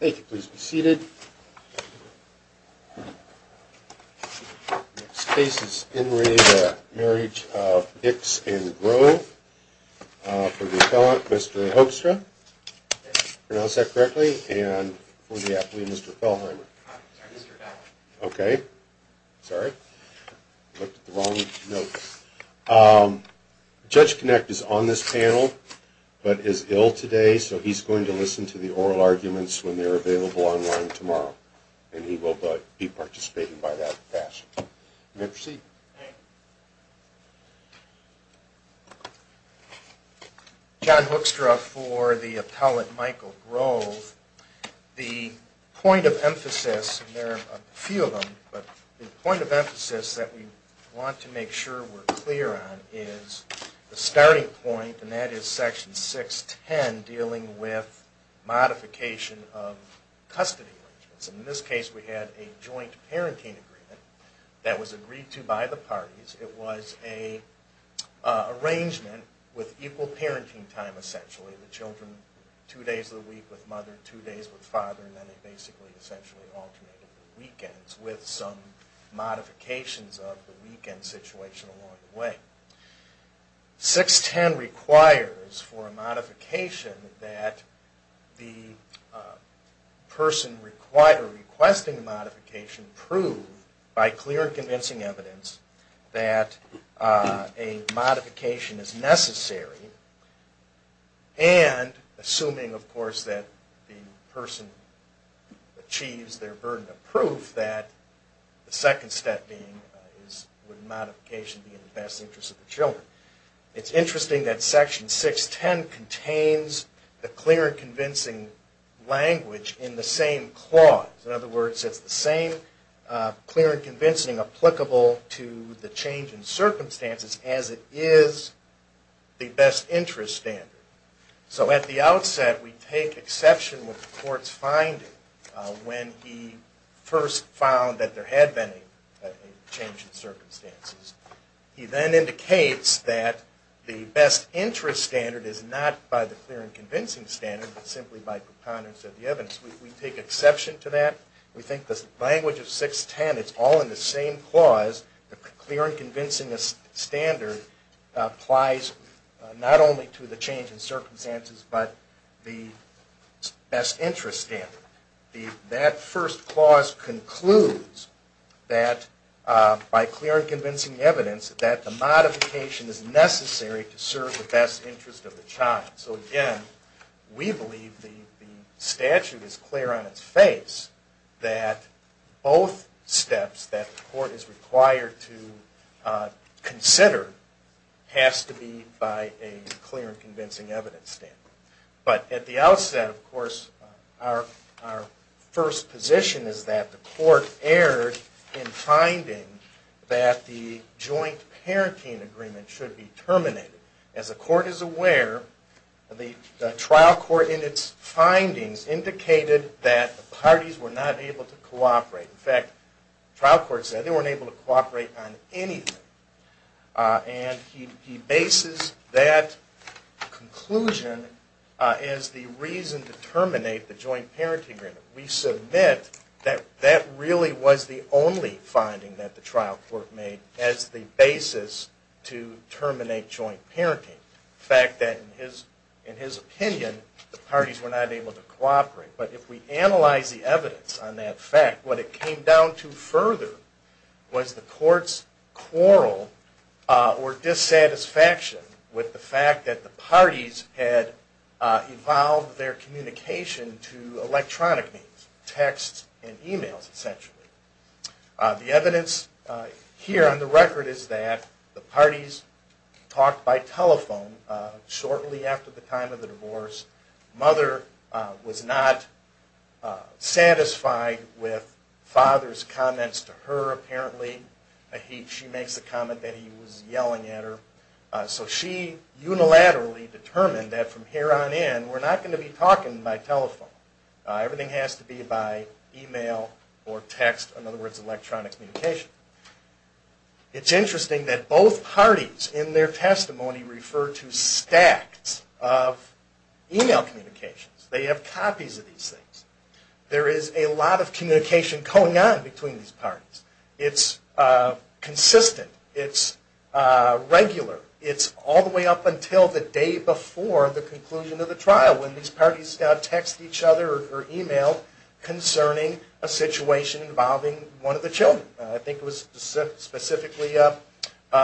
Thank you, please be seated Spaces in radio marriage of dicks and grow for the appellant, mr. Hoekstra Pronounce that correctly and for the athlete, mr. Pell Okay, sorry No Judge connect is on this panel But is ill today So he's going to listen to the oral arguments when they're available online tomorrow, and he will but be participating by that fashion Let's see John Hoekstra for the appellate Michael Grove The point of emphasis and there are a few of them but the point of emphasis that we want to make sure we're clear on is the starting point and that is section 6 10 dealing with modification of custody in this case we had a joint parenting agreement that was agreed to by the parties it was a Arrangement with equal parenting time essentially the children two days of the week with mother two days with father and then they basically essentially weekends with some modifications of the weekend situation along the way 6 10 requires for a modification that the Person required requesting a modification prove by clear convincing evidence that a modification is necessary and Assuming of course that the person achieves their burden of proof that The second step being is with modification the best interest of the children It's interesting that section 6 10 contains the clear convincing Language in the same clause in other words. It's the same Clear and convincing applicable to the change in circumstances as it is the best interest standard So at the outset we take exception with the court's finding when he first found that there had been change in circumstances He then indicates that the best interest standard is not by the clear and convincing standard Simply by preponderance of the evidence we take exception to that we think this language of 6 10 It's all in the same clause the clear and convincing this standard applies not only to the change in circumstances, but the best interest in the that first clause concludes that By clear and convincing evidence that the modification is necessary to serve the best interest of the child so again we believe the Statute is clear on its face that both steps that the court is required to consider Has to be by a clear and convincing evidence standard, but at the outset of course our First position is that the court erred in finding that the joint Parenting agreement should be terminated as a court is aware The trial court in its findings indicated that the parties were not able to cooperate in fact Trial courts that they weren't able to cooperate on anything And he bases that Conclusion is the reason to terminate the joint parenting agreement We submit that that really was the only finding that the trial court made as the basis to In his opinion the parties were not able to cooperate But if we analyze the evidence on that fact what it came down to further was the courts quarrel or dissatisfaction with the fact that the parties had Involved their communication to electronic means texts and emails essentially the evidence Here on the record is that the parties? talked by telephone Shortly after the time of the divorce mother was not Satisfied with father's comments to her apparently She makes the comment that he was yelling at her so she Unilaterally determined that from here on in we're not going to be talking by telephone Everything has to be by email or text in other words electronic communication It's interesting that both parties in their testimony referred to stacks of Email communications they have copies of these things there is a lot of communication going on between these parties. It's consistent it's Regular it's all the way up until the day before the conclusion of the trial when these parties got text each other or email Concerning a situation involving one of the children. I think was specifically up An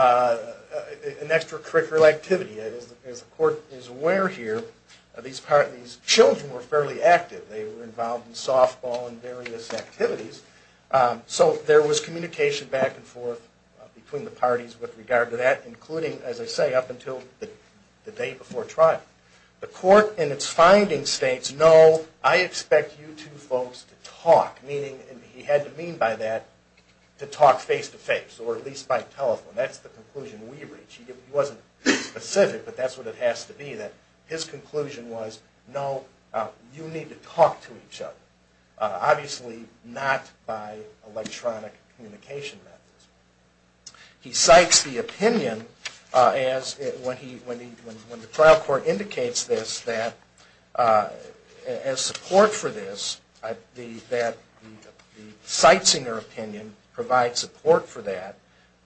extracurricular activity as the court is aware here these parties children were fairly active They were involved in softball and various activities So there was communication back and forth between the parties with regard to that including as I say up until the day before trial The court in its findings states no I expect you to folks to talk meaning and he had to mean by that To talk face to face or at least by telephone. That's the conclusion we reach he wasn't Specific, but that's what it has to be that his conclusion was no you need to talk to each other obviously not by electronic communication He cites the opinion As when he when he when the trial court indicates this that as support for this the that Cites in your opinion provide support for that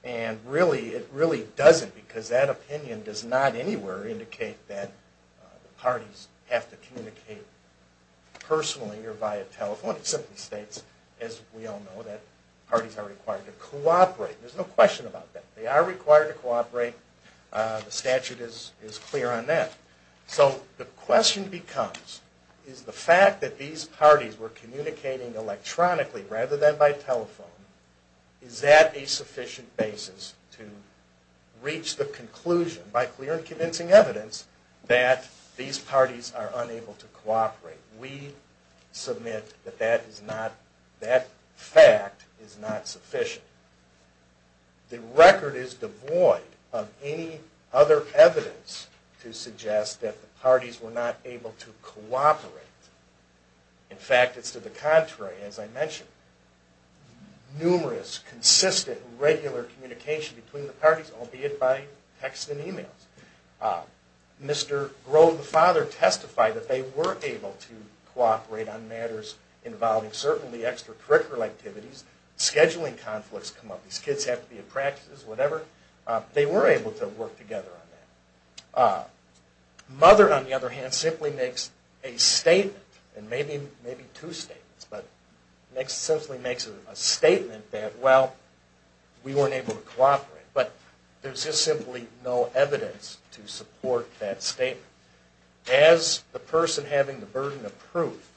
and Really, it really doesn't because that opinion does not anywhere indicate that parties have to communicate Personally or via telephone it simply states as we all know that parties are required to cooperate There's no question about that. They are required to cooperate The statute is is clear on that so the question becomes is the fact that these parties were communicating? Electronically rather than by telephone is that a sufficient basis to? Reach the conclusion by clear and convincing evidence that these parties are unable to cooperate we Submit that that is not that fact is not sufficient The record is devoid of any other evidence to suggest that the parties were not able to cooperate In fact it's to the contrary as I mentioned Numerous consistent regular communication between the parties albeit by text and emails Mr.. Grove the father testified that they were able to cooperate on matters involving certainly extracurricular activities Scheduling conflicts come up these kids have to be a practice whatever they were able to work together on that Mother on the other hand simply makes a statement and maybe maybe two states, but next simply makes a statement that well We weren't able to cooperate, but there's just simply no evidence to support that statement as The person having the burden of proof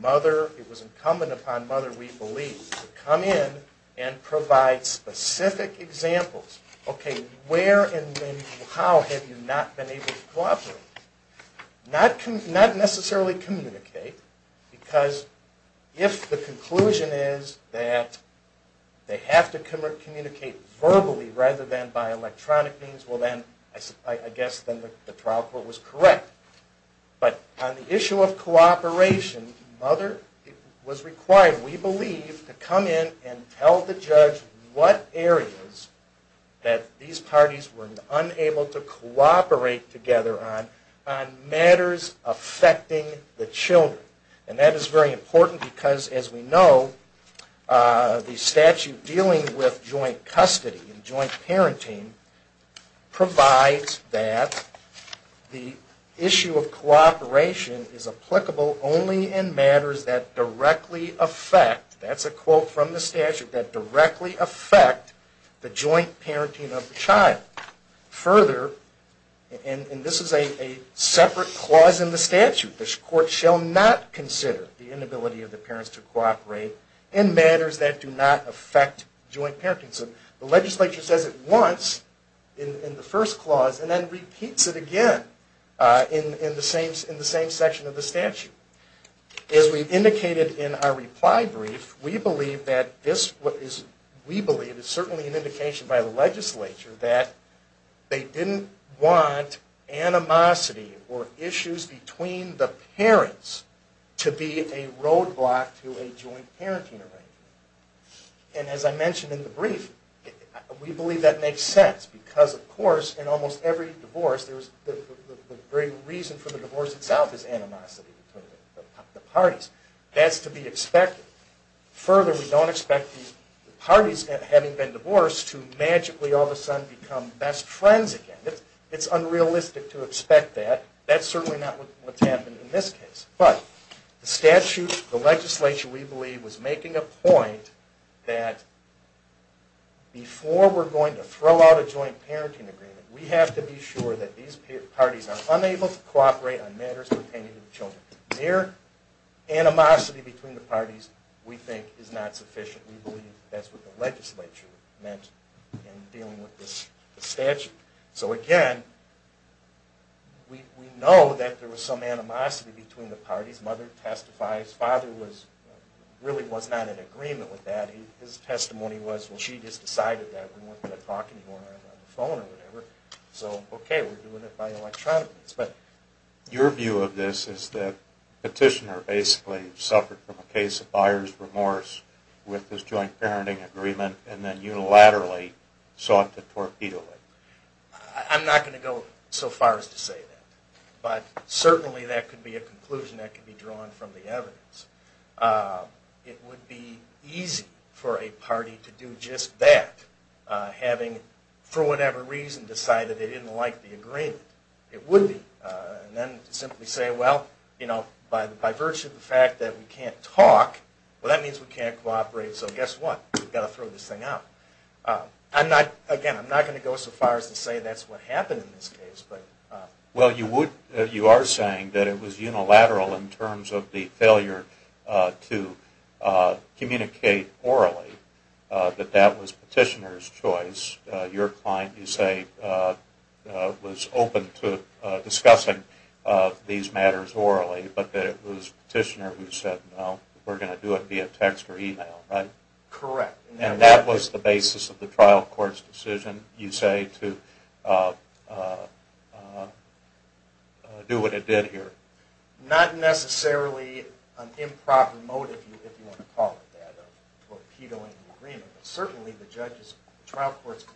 mother it was incumbent upon mother We believe to come in and provide specific Examples, okay, where and how have you not been able to cooperate? not come not necessarily communicate because if the conclusion is that They have to communicate verbally rather than by electronic means well, then I guess then the trial court was correct but on the issue of cooperation Mother it was required. We believe to come in and tell the judge what areas That these parties were unable to cooperate together on Matters affecting the children and that is very important because as we know the statute dealing with joint custody and joint parenting provides that The issue of Cooperation is applicable only in matters that directly affect That's a quote from the statute that directly affect the joint parenting of the child further and this is a Separate clause in the statute this court shall not consider the inability of the parents to cooperate in matters that do not affect Joint parenting so the legislature says it wants in the first clause and then repeats it again In the same in the same section of the statute as we indicated in our reply brief We believe that this what is we believe is certainly an indication by the legislature that? They didn't want animosity or issues between the parents to be a roadblock to a joint parenting arrangement and as I mentioned in the brief We believe that makes sense because of course in almost every divorce. There's the very reason for the divorce itself is animosity The parties that's to be expected Further we don't expect these parties that having been divorced to magically all of a sudden become best friends again It's unrealistic to expect that that's certainly not what's happened in this case, but the statute the legislature We believe was making a point that Before we're going to throw out a joint parenting agreement We have to be sure that these parties are unable to cooperate on matters pertaining to the children here Animosity between the parties we think is not sufficient. We believe that's what the legislature meant dealing with this statute so again We know that there was some animosity between the parties mother testifies father was Really was not an agreement with that his testimony was when she just decided that we weren't going to talk anymore phone or whatever so okay, we're doing it by electronic, but Your view of this is that petitioner basically suffered from a case of buyer's remorse With this joint parenting agreement and then unilaterally sought to torpedo it I'm not going to go so far as to say that but certainly that could be a conclusion that could be drawn from the evidence It would be easy for a party to do just that Having for whatever reason decided they didn't like the agreement It would be and then simply say well, you know by the by virtue of the fact that we can't talk Well, that means we can't cooperate so guess what we've got to throw this thing out I'm not again. I'm not going to go so far as to say that's what happened in this case But well you would you are saying that it was unilateral in terms of the failure to? communicate orally That that was petitioners choice your client you say was open to discussing These matters orally, but that it was petitioner who said well, we're going to do it via text or email right correct That was the basis of the trial court's decision you say to Do what it did here not necessarily an improper motive Certainly the judges trial court's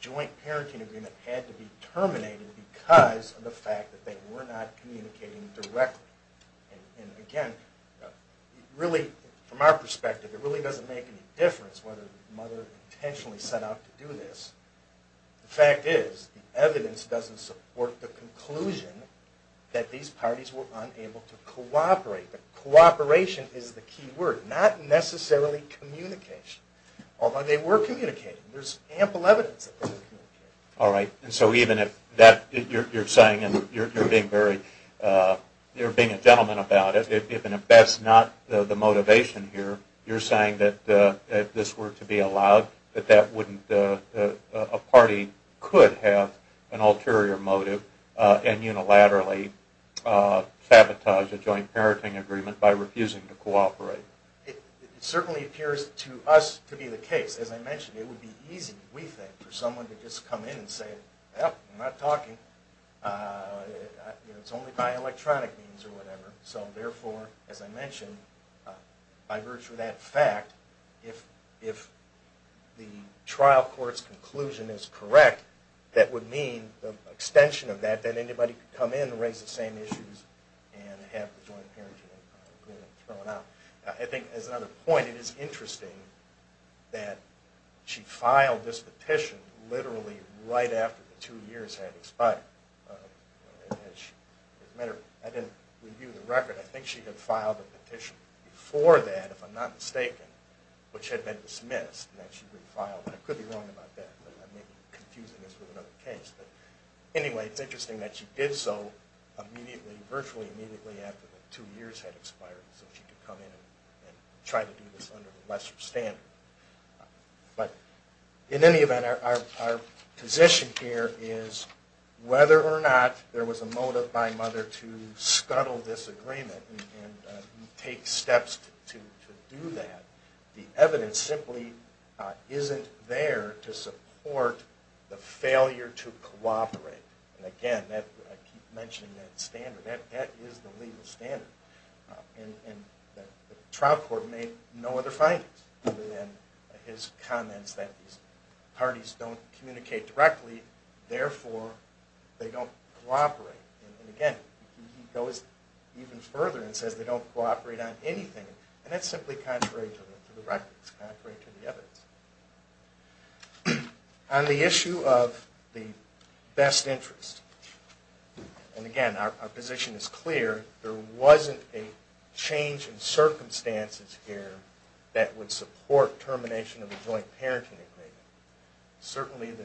Joint parenting agreement had to be terminated because of the fact that they were not communicating directly and again Really from our perspective it really doesn't make any difference whether mother intentionally set out to do this The fact is the evidence doesn't support the conclusion that these parties were unable to cooperate Cooperation is the key word not necessarily communication although they were communicating. There's ample evidence All right, and so even if that you're saying and you're being very You're being a gentleman about it if even if that's not the motivation here You're saying that that this were to be allowed that that wouldn't a party could have an ulterior motive and unilaterally Sabotage a joint parenting agreement by refusing to cooperate Certainly appears to us to be the case as I mentioned it would be easy We think for someone to just come in and say yeah, I'm not talking It's only by electronic means or whatever so therefore as I mentioned by virtue of that fact if if The trial courts conclusion is correct that would mean the extension of that that anybody could come in and raise the same issues I think as another point it is interesting that She filed this petition literally right after the two years had expired Matter I didn't review the record. I think she had filed a petition before that if I'm not mistaken Which had been dismissed and that she refiled I could be wrong about that Anyway, it's interesting that she did so Immediately virtually immediately after the two years had expired so she could come in and try to do this under the lesser standard But in any event our position here is Whether or not there was a motive by mother to scuttle this agreement and take steps to do that the evidence simply Isn't there to support the failure to cooperate and again that I keep mentioning that standard That is the legal standard And Trial court made no other findings and his comments that these parties don't communicate directly therefore they don't cooperate and again Goes even further and says they don't cooperate on anything, and that's simply contrary to the records On the issue of the best interest And again our position is clear there wasn't a change in Circumstances here that would support termination of a joint parenting agreement Certainly the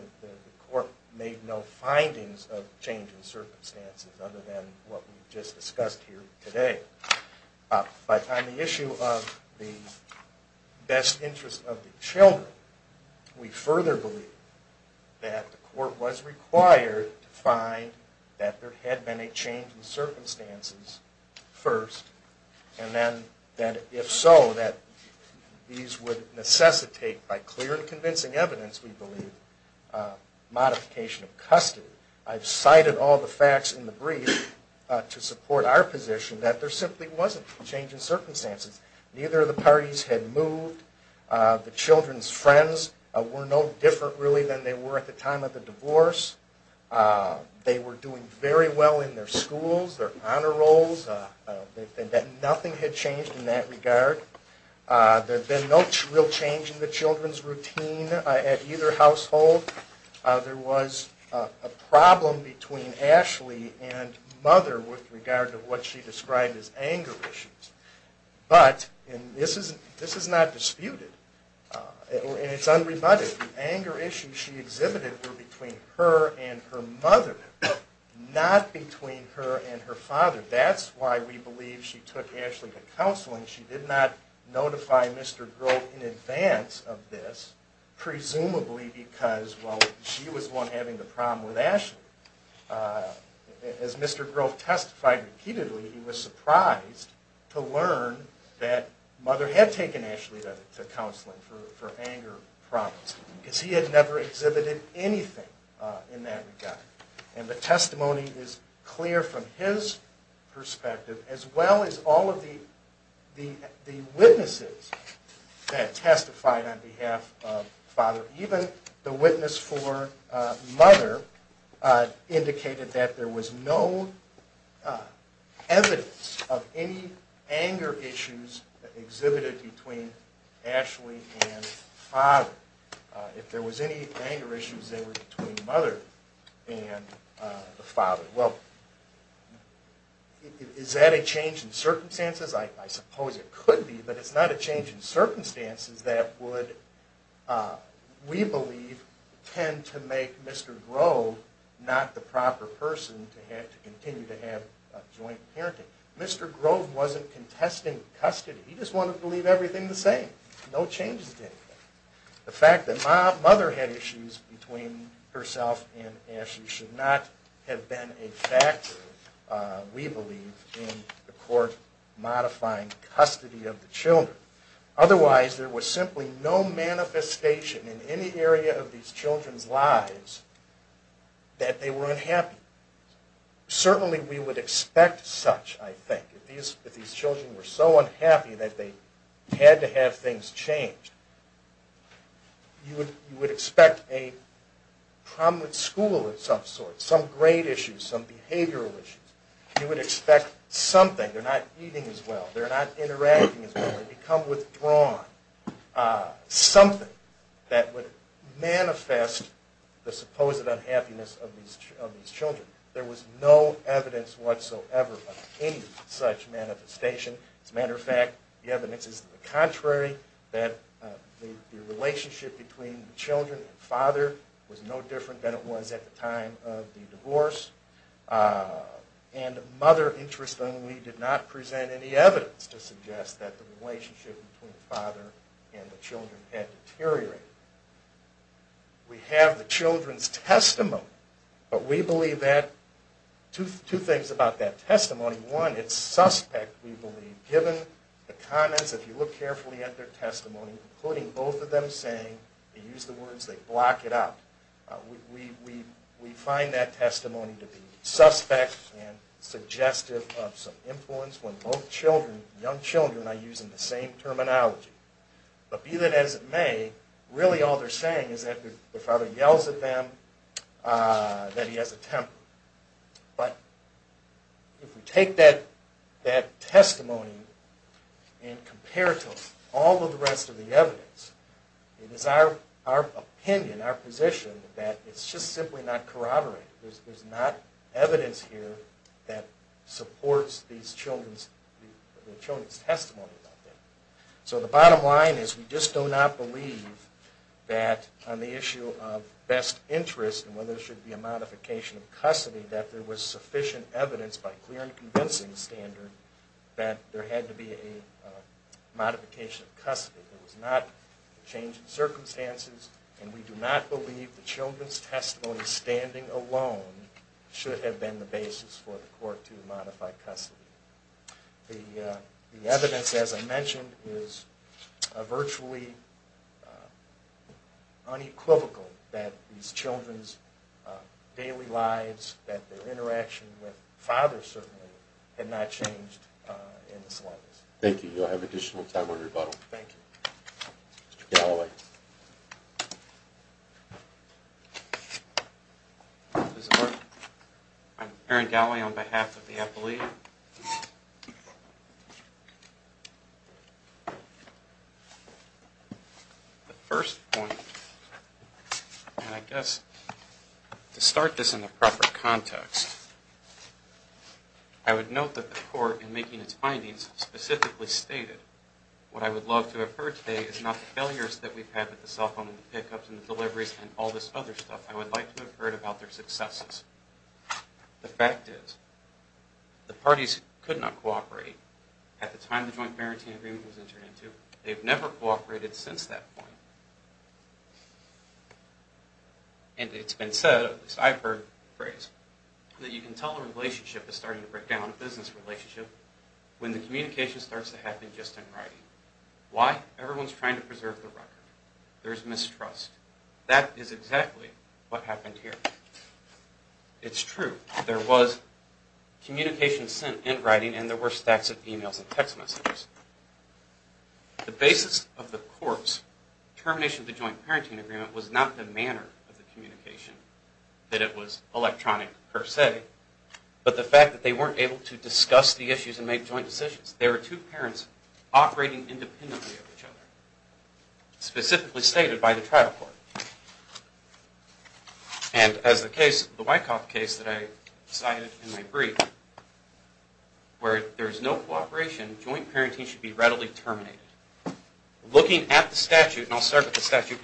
court made no findings of change in circumstances other than what we just discussed here today by time the issue of the best interest of the children We further believe that the court was required to find that there had been a change in circumstances First and then that if so that these would necessitate by clear and convincing evidence we believe Modification of custody I've cited all the facts in the brief To support our position that there simply wasn't a change in circumstances neither of the parties had moved The children's friends were no different really than they were at the time of the divorce They were doing very well in their schools their honor rolls That nothing had changed in that regard There's been no real change in the children's routine at either household There was a problem between Ashley and mother with regard to what she described as anger issues But and this isn't this is not disputed And it's unrebutted anger issues. She exhibited between her and her mother Not between her and her father. That's why we believe she took Ashley to counseling. She did not notify mr. Grove in advance of this Presumably because well she was one having the problem with Ashley As mr. Grove testified repeatedly he was surprised to learn that mother had taken Ashley to counseling for Anger problems because he had never exhibited anything in that regard and the testimony is clear from his perspective as well as all of the the the witnesses that testified on behalf of father even the witness for Mother Indicated that there was no Evidence of any anger issues exhibited between Ashley and father if there was any anger issues they were between mother and the father well Is that a change in circumstances, I suppose it could be but it's not a change in circumstances that would We believe tend to make mr. Grove not the proper person to have to continue to have a joint parenting mr. Grove wasn't contesting custody. He just wanted to leave everything the same no changes The fact that my mother had issues between herself and Ashley should not have been a fact We believe in the court Modifying custody of the children otherwise there was simply no Manifestation in any area of these children's lives That they were unhappy Certainly we would expect such I think if these if these children were so unhappy that they had to have things change You would you would expect a Problem with school at some sort some great issues some behavioral issues you would expect something. They're not eating as well They're not interacting become withdrawn Something that would manifest the supposed unhappiness of these children there was no evidence whatsoever such manifestation as a matter of fact the evidence is the contrary that The relationship between the children and father was no different than it was at the time of the divorce And mother interestingly did not present any evidence to suggest that the relationship between the father and the children had deteriorated We have the children's testimony, but we believe that To two things about that testimony one. It's suspect Given the comments if you look carefully at their testimony including both of them saying they use the words they block it out We we find that testimony to be suspect and Suggestive of some influence when both children young children are using the same terminology But be that as it may really all they're saying is that the father yells at them that he has a temper, but If we take that that testimony And compare it to all of the rest of the evidence It is our our opinion our position that it's just simply not corroborate. There's not evidence here that supports these children's children's testimony So the bottom line is we just do not believe That on the issue of best interest and whether there should be a modification of custody that there was sufficient evidence by clear and convincing standard that there had to be a Modification of custody it was not Changing circumstances, and we do not believe the children's testimony standing alone Should have been the basis for the court to modify custody the evidence as I mentioned is virtually unequivocal that these children's Daily lives that their interaction with father certainly had not changed Thank you, you'll have additional time on rebuttal Aaron Galley on behalf of the appellee The first point And I guess to start this in the proper context I Would note that the court in making its findings specifically stated What I would love to have heard today is not the failures that we've had with the cell phone and pickups and deliveries and all This other stuff. I would like to have heard about their successes the fact is The parties could not cooperate at the time the joint parenting agreement was entered into they've never cooperated since that point And it's been said this I've heard phrase That you can tell the relationship is starting to break down a business relationship When the communication starts to happen just in writing why everyone's trying to preserve the record there's mistrust That is exactly what happened here It's true. There was Communication sent in writing and there were stacks of emails and text messages the basis of the courts Termination of the joint parenting agreement was not the manner of the communication that it was electronic per se But the fact that they weren't able to discuss the issues and make joint decisions. There are two parents operating independently of each other specifically stated by the trial court and As the case the Wyckoff case that I decided in my brief Where there's no cooperation joint parenting should be readily terminated Looking at the statute and I'll start with the statute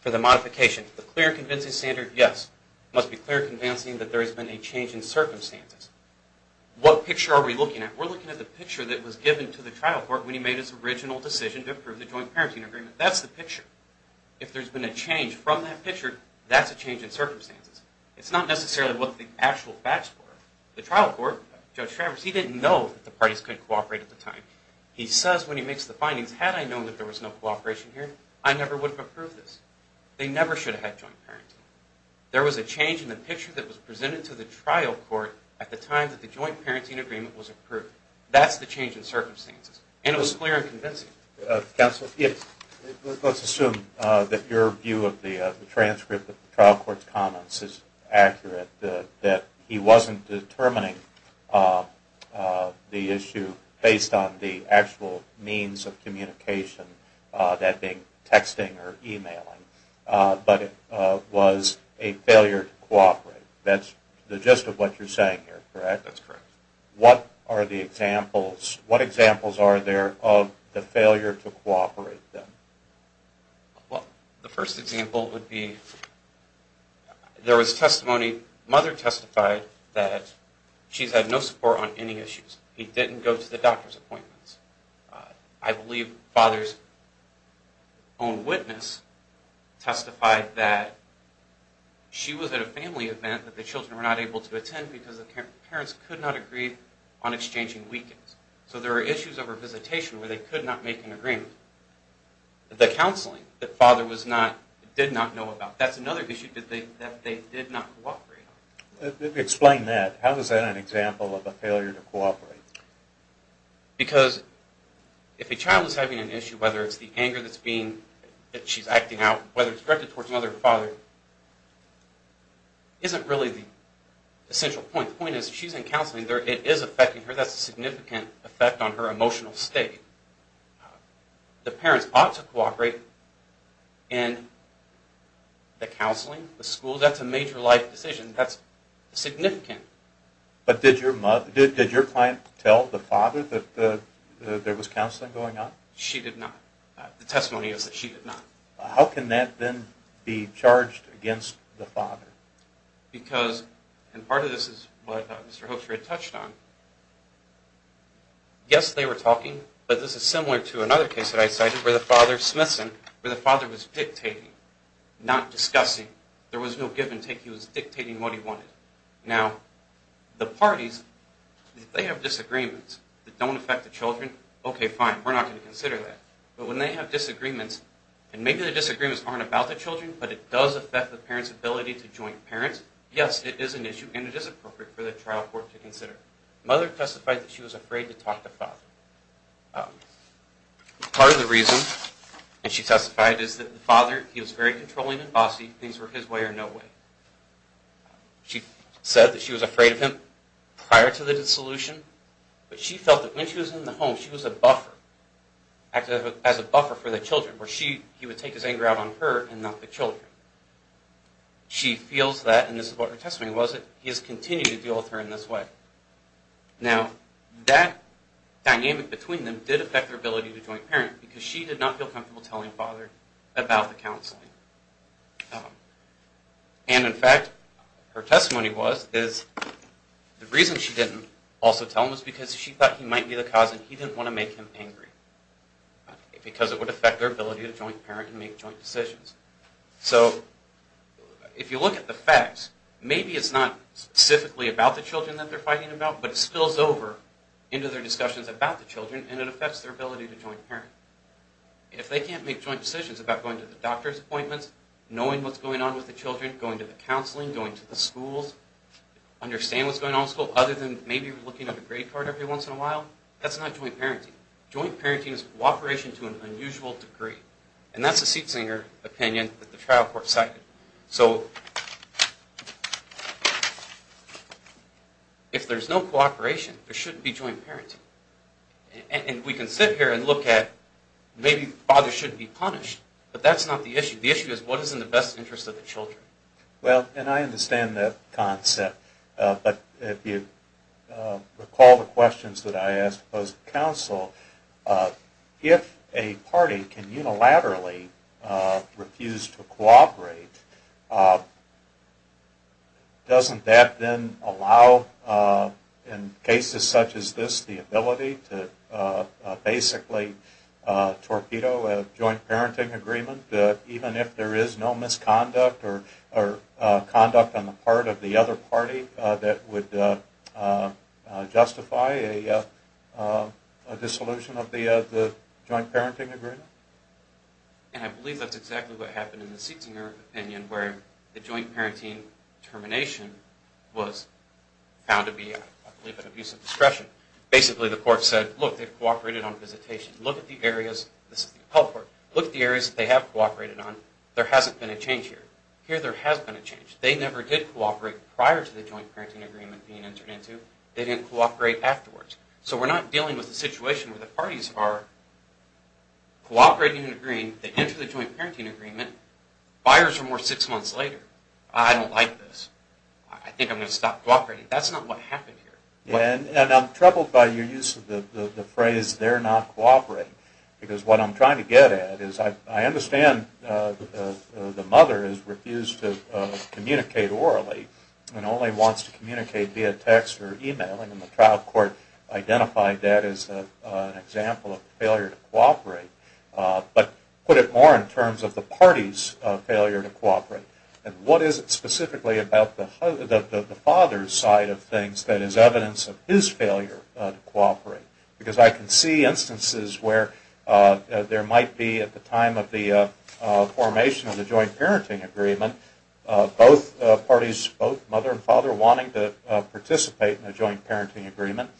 for the modification the clear convincing standard Yes must be clear convincing that there has been a change in circumstances What picture are we looking at we're looking at the picture that was given to the trial court when he made his original decision to That's a change in circumstances, it's not necessarily what the actual facts were the trial court judge Travers He didn't know the parties could cooperate at the time He says when he makes the findings had I known that there was no cooperation here. I never would have approved this They never should have had joint parenting There was a change in the picture that was presented to the trial court at the time that the joint parenting agreement was approved That's the change in circumstances, and it was clear and convincing Counsel it Let's assume that your view of the transcript of the trial court's comments is accurate that he wasn't determining The issue based on the actual means of communication That being texting or emailing But it was a failure to cooperate. That's the gist of what you're saying here, correct What are the examples what examples are there of the failure to cooperate them well the first example would be There was testimony mother testified that she's had no support on any issues. He didn't go to the doctor's appointments. I believe father's own witness testified that She was at a family event that the children were not able to attend because the parents could not agree on Exchanging weekends, so there are issues of her visitation where they could not make an agreement The counseling that father was not did not know about that's another issue that they did not cooperate Explain that how does that an example of a failure to cooperate? because If a child is having an issue whether it's the anger that's being that she's acting out whether it's directed towards another father Is it really the Essential point point is she's in counseling there. It is affecting her. That's a significant effect on her emotional state the parents ought to cooperate in The counseling the school that's a major life decision. That's Significant, but did your mother did did your client tell the father that the there was counseling going on she did not The testimony is that she did not how can that then be charged against the father? Because and part of this is what mr.. Hofer had touched on Yes, they were talking, but this is similar to another case that I cited where the father Smithson where the father was dictating Not discussing there was no give-and-take. He was dictating what he wanted now the parties They have disagreements that don't affect the children, okay fine But when they have disagreements, and maybe the disagreements aren't about the children, but it does affect the parents ability to join parents Yes, it is an issue, and it is appropriate for the trial court to consider mother testified that she was afraid to talk to father Part of the reason and she testified is that the father he was very controlling and bossy things were his way or no way She said that she was afraid of him prior to the dissolution, but she felt that when she was in the home She was a buffer Acted as a buffer for the children where she he would take his anger out on her and not the children She feels that and this is what her testimony was it he has continued to deal with her in this way now that Dynamic between them did affect their ability to joint parent because she did not feel comfortable telling father about the counseling And in fact her testimony was is The reason she didn't also tell him was because she thought he might be the cause and he didn't want to make him angry Because it would affect their ability to joint parent and make joint decisions, so If you look at the facts, maybe it's not Specifically about the children that they're fighting about but it spills over into their discussions about the children and it affects their ability to join parent If they can't make joint decisions about going to the doctor's appointments knowing what's going on with the children going to the counseling going to the schools Understand what's going on school other than maybe looking at a grade card every once in a while That's not joint parenting joint parenting is cooperation to an unusual degree and that's a seat singer opinion that the trial court cited, so If there's no cooperation there shouldn't be joint parenting And we can sit here and look at maybe father shouldn't be punished But that's not the issue the issue is what is in the best interest of the children well And I understand that concept but if you Recall the questions that I asked those counsel If a party can unilaterally refuse to cooperate Doesn't that then allow in cases such as this the ability to basically torpedo a joint parenting agreement even if there is no misconduct or conduct on the part of the other party that would Justify a Dissolution of the the joint parenting agreement And I believe that's exactly what happened in the seating or opinion where the joint parenting termination was Found to be a little bit of use of discretion basically the court said look they've cooperated on visitation look at the areas This is the health work look the areas they have cooperated on there hasn't been a change here here There has been a change. They never did cooperate prior to the joint parenting agreement being entered into they didn't cooperate afterwards So we're not dealing with the situation where the parties are Cooperating and agreeing they enter the joint parenting agreement Buyers are more six months later. I don't like this. I think I'm gonna stop cooperating. That's not what happened here Yeah, and I'm troubled by your use of the phrase They're not cooperating because what I'm trying to get at is I understand The mother is refused to Communicate orally and only wants to communicate via text or email and the trial court identified that as a example of failure to cooperate But put it more in terms of the party's failure to cooperate And what is it specifically about the father's side of things that is evidence of his failure to cooperate? because I can see instances where there might be at the time of the formation of the joint parenting agreement Both parties both mother and father wanting to participate in a joint parenting agreement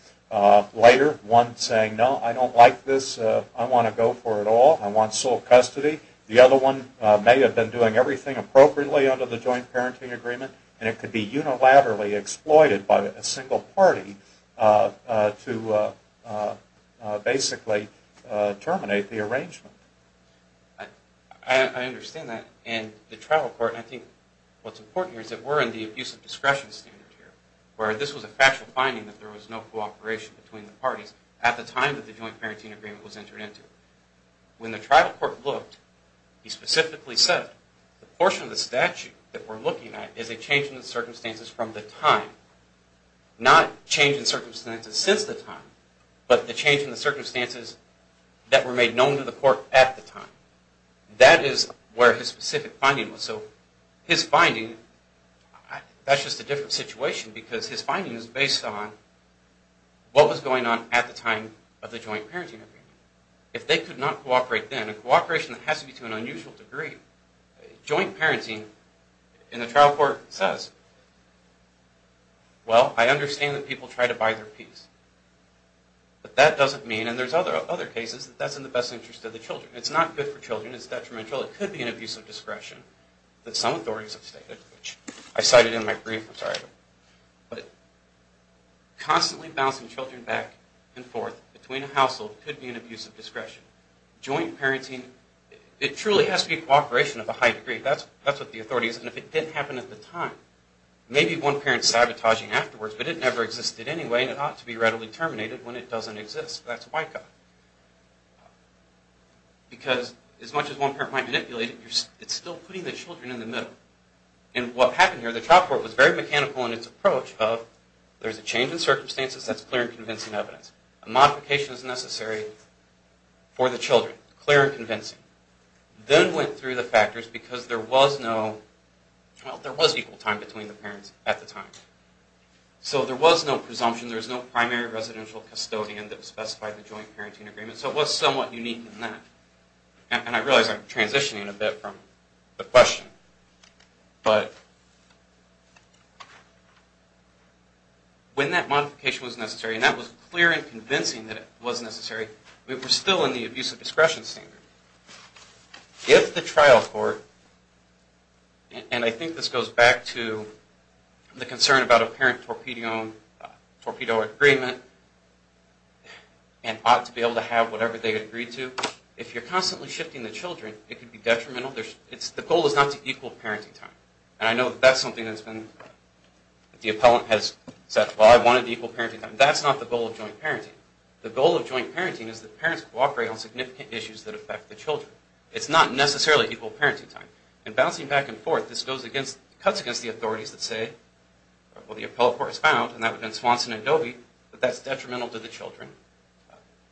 Later one saying no, I don't like this. I want to go for it all I want sole custody the other one may have been doing everything Appropriately under the joint parenting agreement, and it could be unilaterally exploited by a single party to Basically terminate the arrangement I Understand that and the trial court I think what's important is that we're in the abusive discretion standard here where this was a factual finding that there was no cooperation between the Parties at the time that the joint parenting agreement was entered into When the trial court looked he specifically said the portion of the statute that we're looking at is a change in the circumstances from the time Not change in circumstances since the time but the change in the circumstances That were made known to the court at the time that is where his specific finding was so his finding That's just a different situation because his findings based on What was going on at the time of the joint parenting agreement if they could not cooperate then a cooperation has to be to an unusual degree joint parenting in the trial court says Well, I understand that people try to buy their piece But that doesn't mean and there's other other cases that that's in the best interest of the children It's not good for children. It's detrimental. It could be an abuse of discretion that some authorities have stated which I cited in my brief I'm sorry, but Constantly bouncing children back and forth between a household could be an abuse of discretion Joint parenting it truly has to be cooperation of a high degree. That's that's what the authorities and if it didn't happen at the time Maybe one parent sabotaging afterwards, but it never existed anyway, and it ought to be readily terminated when it doesn't exist. That's a white guy Because as much as one parent might manipulate it It's still putting the children in the middle and what happened here the trial court was very mechanical in its approach of There's a change in circumstances. That's clear convincing evidence a modification is necessary for the children clear and convincing Then went through the factors because there was no Well there was equal time between the parents at the time So there was no presumption. There's no primary residential custodian that specified the joint parenting agreement, so it was somewhat unique in that And I realize I'm transitioning a bit from the question but When that modification was necessary and that was clear and convincing that it was necessary we were still in the abuse of discretion standard if the trial court And I think this goes back to the concern about a parent torpedo torpedo agreement and Ought to be able to have whatever they agreed to if you're constantly shifting the children it could be detrimental There's it's the goal is not to equal parenting time, and I know that's something that's been The appellant has said well. I wanted equal parenting time That's not the goal of joint parenting the goal of joint parenting is that parents cooperate on significant issues that affect the children It's not necessarily equal parenting time and bouncing back and forth this goes against cuts against the authorities that say Well the appellate court is found and that would been Swanson and Dovey, but that's detrimental to the children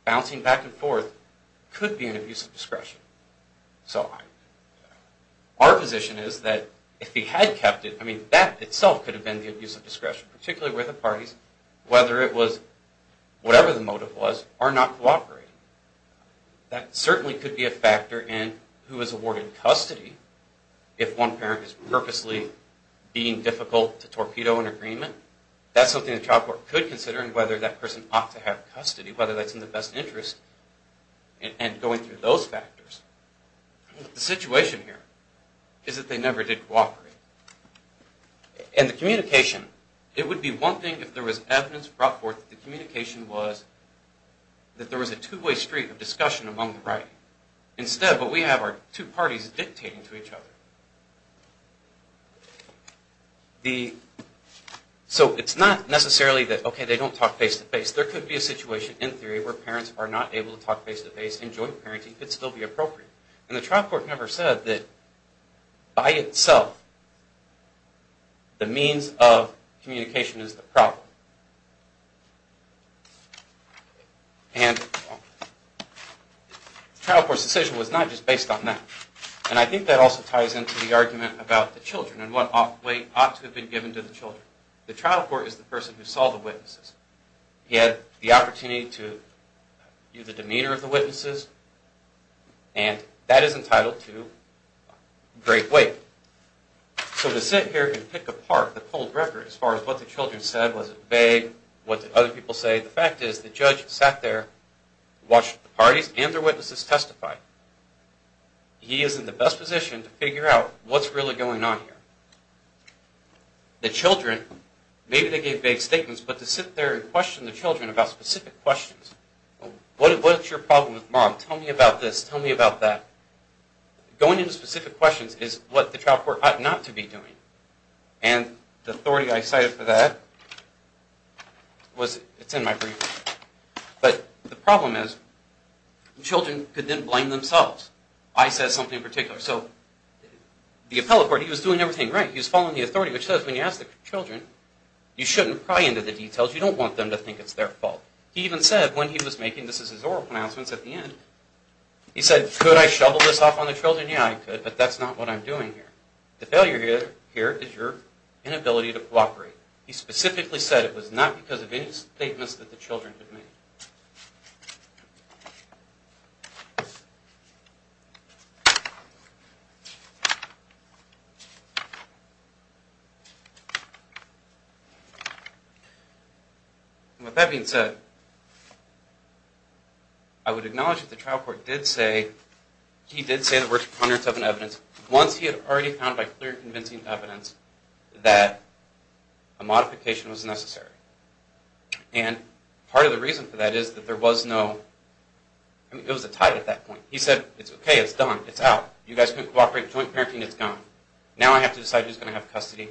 Bouncing back and forth could be an abuse of discretion so Our position is that if he had kept it I mean that itself could have been the abuse of discretion particularly where the parties whether it was Whatever the motive was are not cooperating That certainly could be a factor in who is awarded custody if one parent is purposely Being difficult to torpedo an agreement That's something the child court could consider and whether that person ought to have custody whether that's in the best interest And going through those factors The situation here is that they never did cooperate And the communication it would be one thing if there was evidence brought forth the communication was That there was a two-way street of discussion among the right instead, but we have our two parties dictating to each other The So it's not necessarily that okay They don't talk face-to-face there could be a situation in theory where parents are not able to talk face-to-face Enjoy parenting could still be appropriate and the trial court never said that by itself The means of communication is the problem And Child for decision was not just based on that And I think that also ties into the argument about the children and what off weight ought to have been given to the children The trial court is the person who saw the witnesses. He had the opportunity to use the demeanor of the witnesses and That is entitled to great weight So to sit here and pick apart the cold record as far as what the children said was vague What other people say the fact is the judge sat there watch the parties and their witnesses testified He is in the best position to figure out what's really going on here The children maybe they gave big statements, but to sit there and question the children about specific questions What is what's your problem with mom tell me about this tell me about that? going into specific questions is what the trial court ought not to be doing and the authority I cited for that Was it's in my brief but the problem is Children could then blame themselves. I said something in particular so The appellate court he was doing everything right he was following the authority which says when you ask the children You shouldn't pry into the details. You don't want them to think it's their fault He even said when he was making this is his oral announcements at the end He said could I shovel this off on the children? Yeah, I could but that's not what I'm doing here Here is your inability to cooperate he specifically said it was not because of any statements that the children With that being said I Would acknowledge that the trial court did say He did say the words hundreds of an evidence once he had already found by clear convincing evidence that a modification was necessary and Part of the reason for that is that there was no It was a tie at that point. He said it's okay. It's done. It's out you guys can't cooperate joint parenting It's gone now. I have to decide who's going to have custody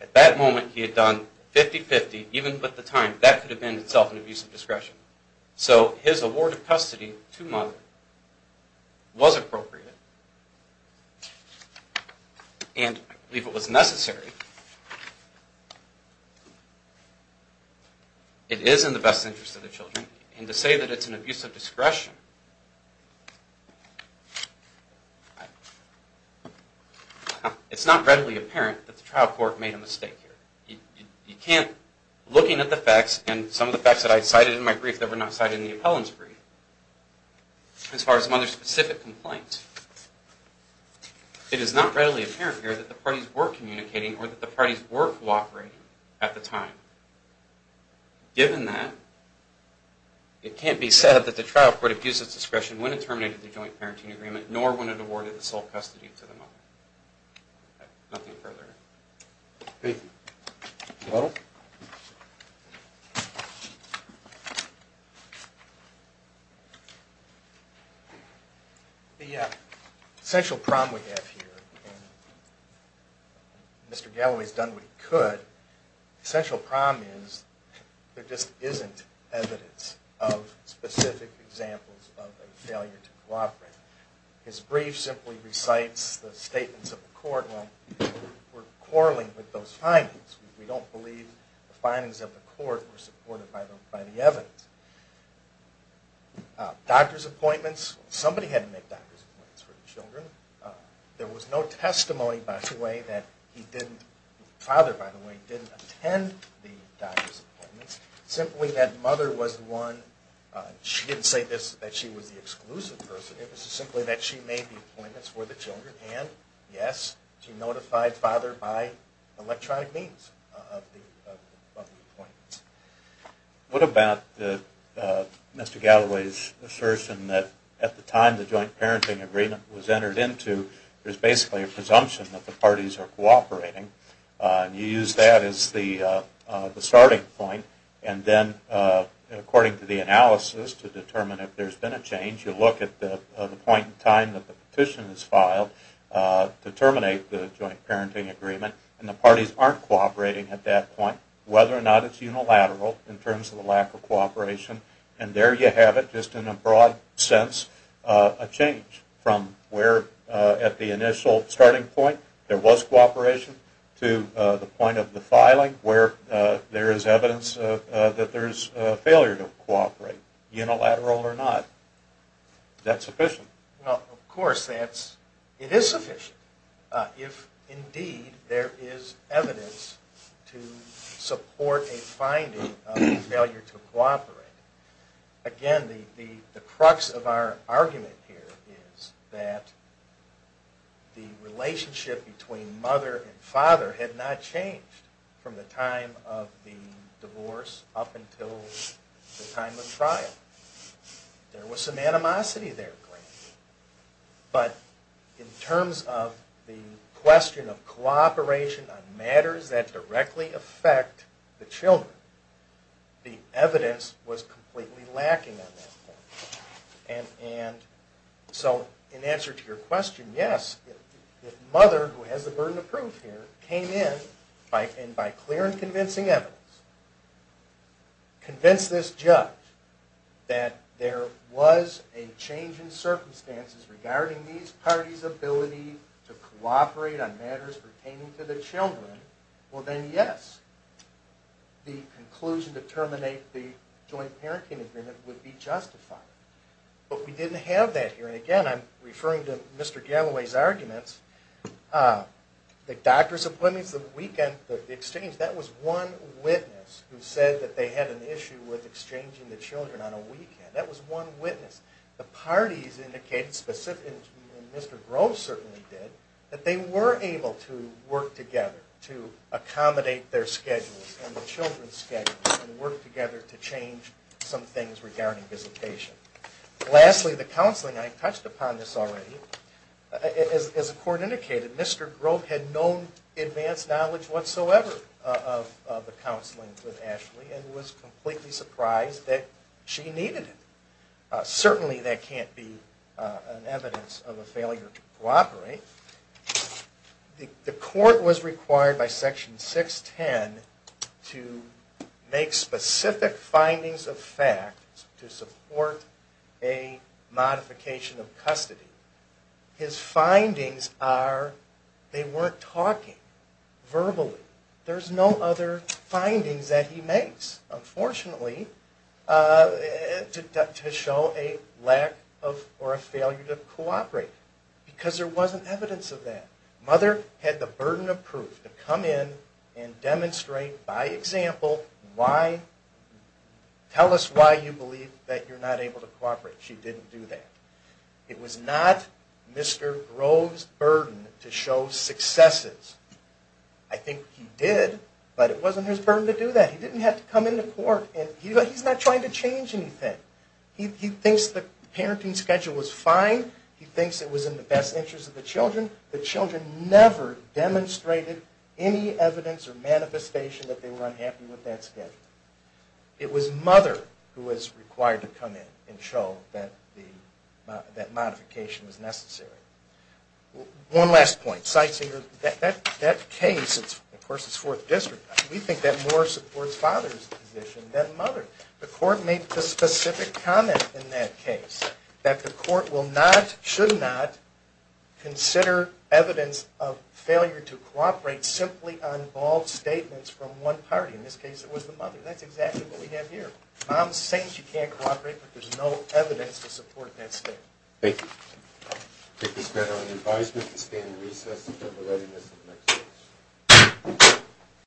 At that moment he had done 50-50 even put the time that could have been itself an abuse of discretion So his award of custody to mother Was appropriate And leave it was necessary It is in the best interest of the children and to say that it's an abuse of discretion It's not readily apparent that the trial court made a mistake here You can't looking at the facts and some of the facts that I decided in my brief that were not cited in the appellant's brief As far as mother specific complaint It is not readily apparent here that the parties were communicating or that the parties were cooperating at the time Given that It can't be said that the trial court abuses discretion when it terminated the joint parenting agreement nor when it awarded the sole custody to them The essential problem we have here Mr.. Galloway's done. We could essential problem is There just isn't evidence of specific examples of a failure to cooperate His brief simply recites the statements of the court when We're quarreling with those findings. We don't believe the findings of the court were supported by the evidence Doctors appointments somebody had to make doctors for the children There was no testimony by the way that he didn't father by the way didn't attend the doctor's appointments Simply that mother was the one She didn't say this that she was the exclusive person. It was simply that she made the appointments for the children and yes she notified father by electronic means of the appointments What about the Mr.. Galloway's assertion that at the time the joint parenting agreement was entered into there's basically a presumption that the parties are cooperating and you use that as the starting point and then According to the analysis to determine if there's been a change you look at the point in time that the petition is filed To terminate the joint parenting agreement and the parties aren't cooperating at that point whether or not it's unilateral In terms of the lack of cooperation and there you have it just in a broad sense a change from where at the initial starting point there was cooperation to the point of the filing where There is evidence that there's failure to cooperate unilateral or not That's sufficient no of course that's it is sufficient if indeed there is evidence to support a finding of failure to cooperate again the the crux of our argument here is that the relationship between mother and father had not changed from the time of the divorce up until the time of trial There was some animosity there but in terms of the question of cooperation on matters that directly affect the children the evidence was completely lacking on that point and So in answer to your question yes Mother who has the burden of proof here came in by and by clear and convincing evidence To convince this judge That there was a change in circumstances regarding these parties ability to cooperate on matters Pertaining to the children well, then yes The conclusion to terminate the joint parenting agreement would be justified But we didn't have that here and again. I'm referring to mr.. Galloway's arguments The doctor's appointments the weekend the exchange that was one witness who said that they had an issue with Exchanging the children on a weekend that was one witness the parties indicated specific Mr.. Groves certainly did that they were able to work together to accommodate their schedules and the children's Schedule and work together to change some things regarding visitation Lastly the counseling I touched upon this already As the court indicated mr. Grove had known advanced knowledge whatsoever of the counseling with Ashley and was completely surprised that She needed it Certainly that can't be an evidence of a failure to cooperate the court was required by section 610 to make specific findings of fact to support a Modification of custody his findings are They weren't talking Verbally, there's no other findings that he makes unfortunately To show a lack of or a failure to cooperate Because there wasn't evidence of that mother had the burden of proof to come in and demonstrate by example why? Tell us why you believe that you're not able to cooperate. She didn't do that. It was not Mr.. Groves burden to show successes I Think he did, but it wasn't his burden to do that. He didn't have to come into court And he's not trying to change anything He thinks the parenting schedule was fine. He thinks it was in the best interest of the children the children never demonstrated any evidence or manifestation that they were unhappy with that schedule It was mother who was required to come in and show that the that modification was necessary One last point sightseeing that that case it's of course its fourth district We think that more supports father's position that mother the court made the specific comment in that case That the court will not should not Consider evidence of failure to cooperate simply on all statements from one party in this case. It was the mother That's exactly what we have here. I'm saying she can't cooperate, but there's no evidence to support that state. Thank you Take this better than advisement to stay in recess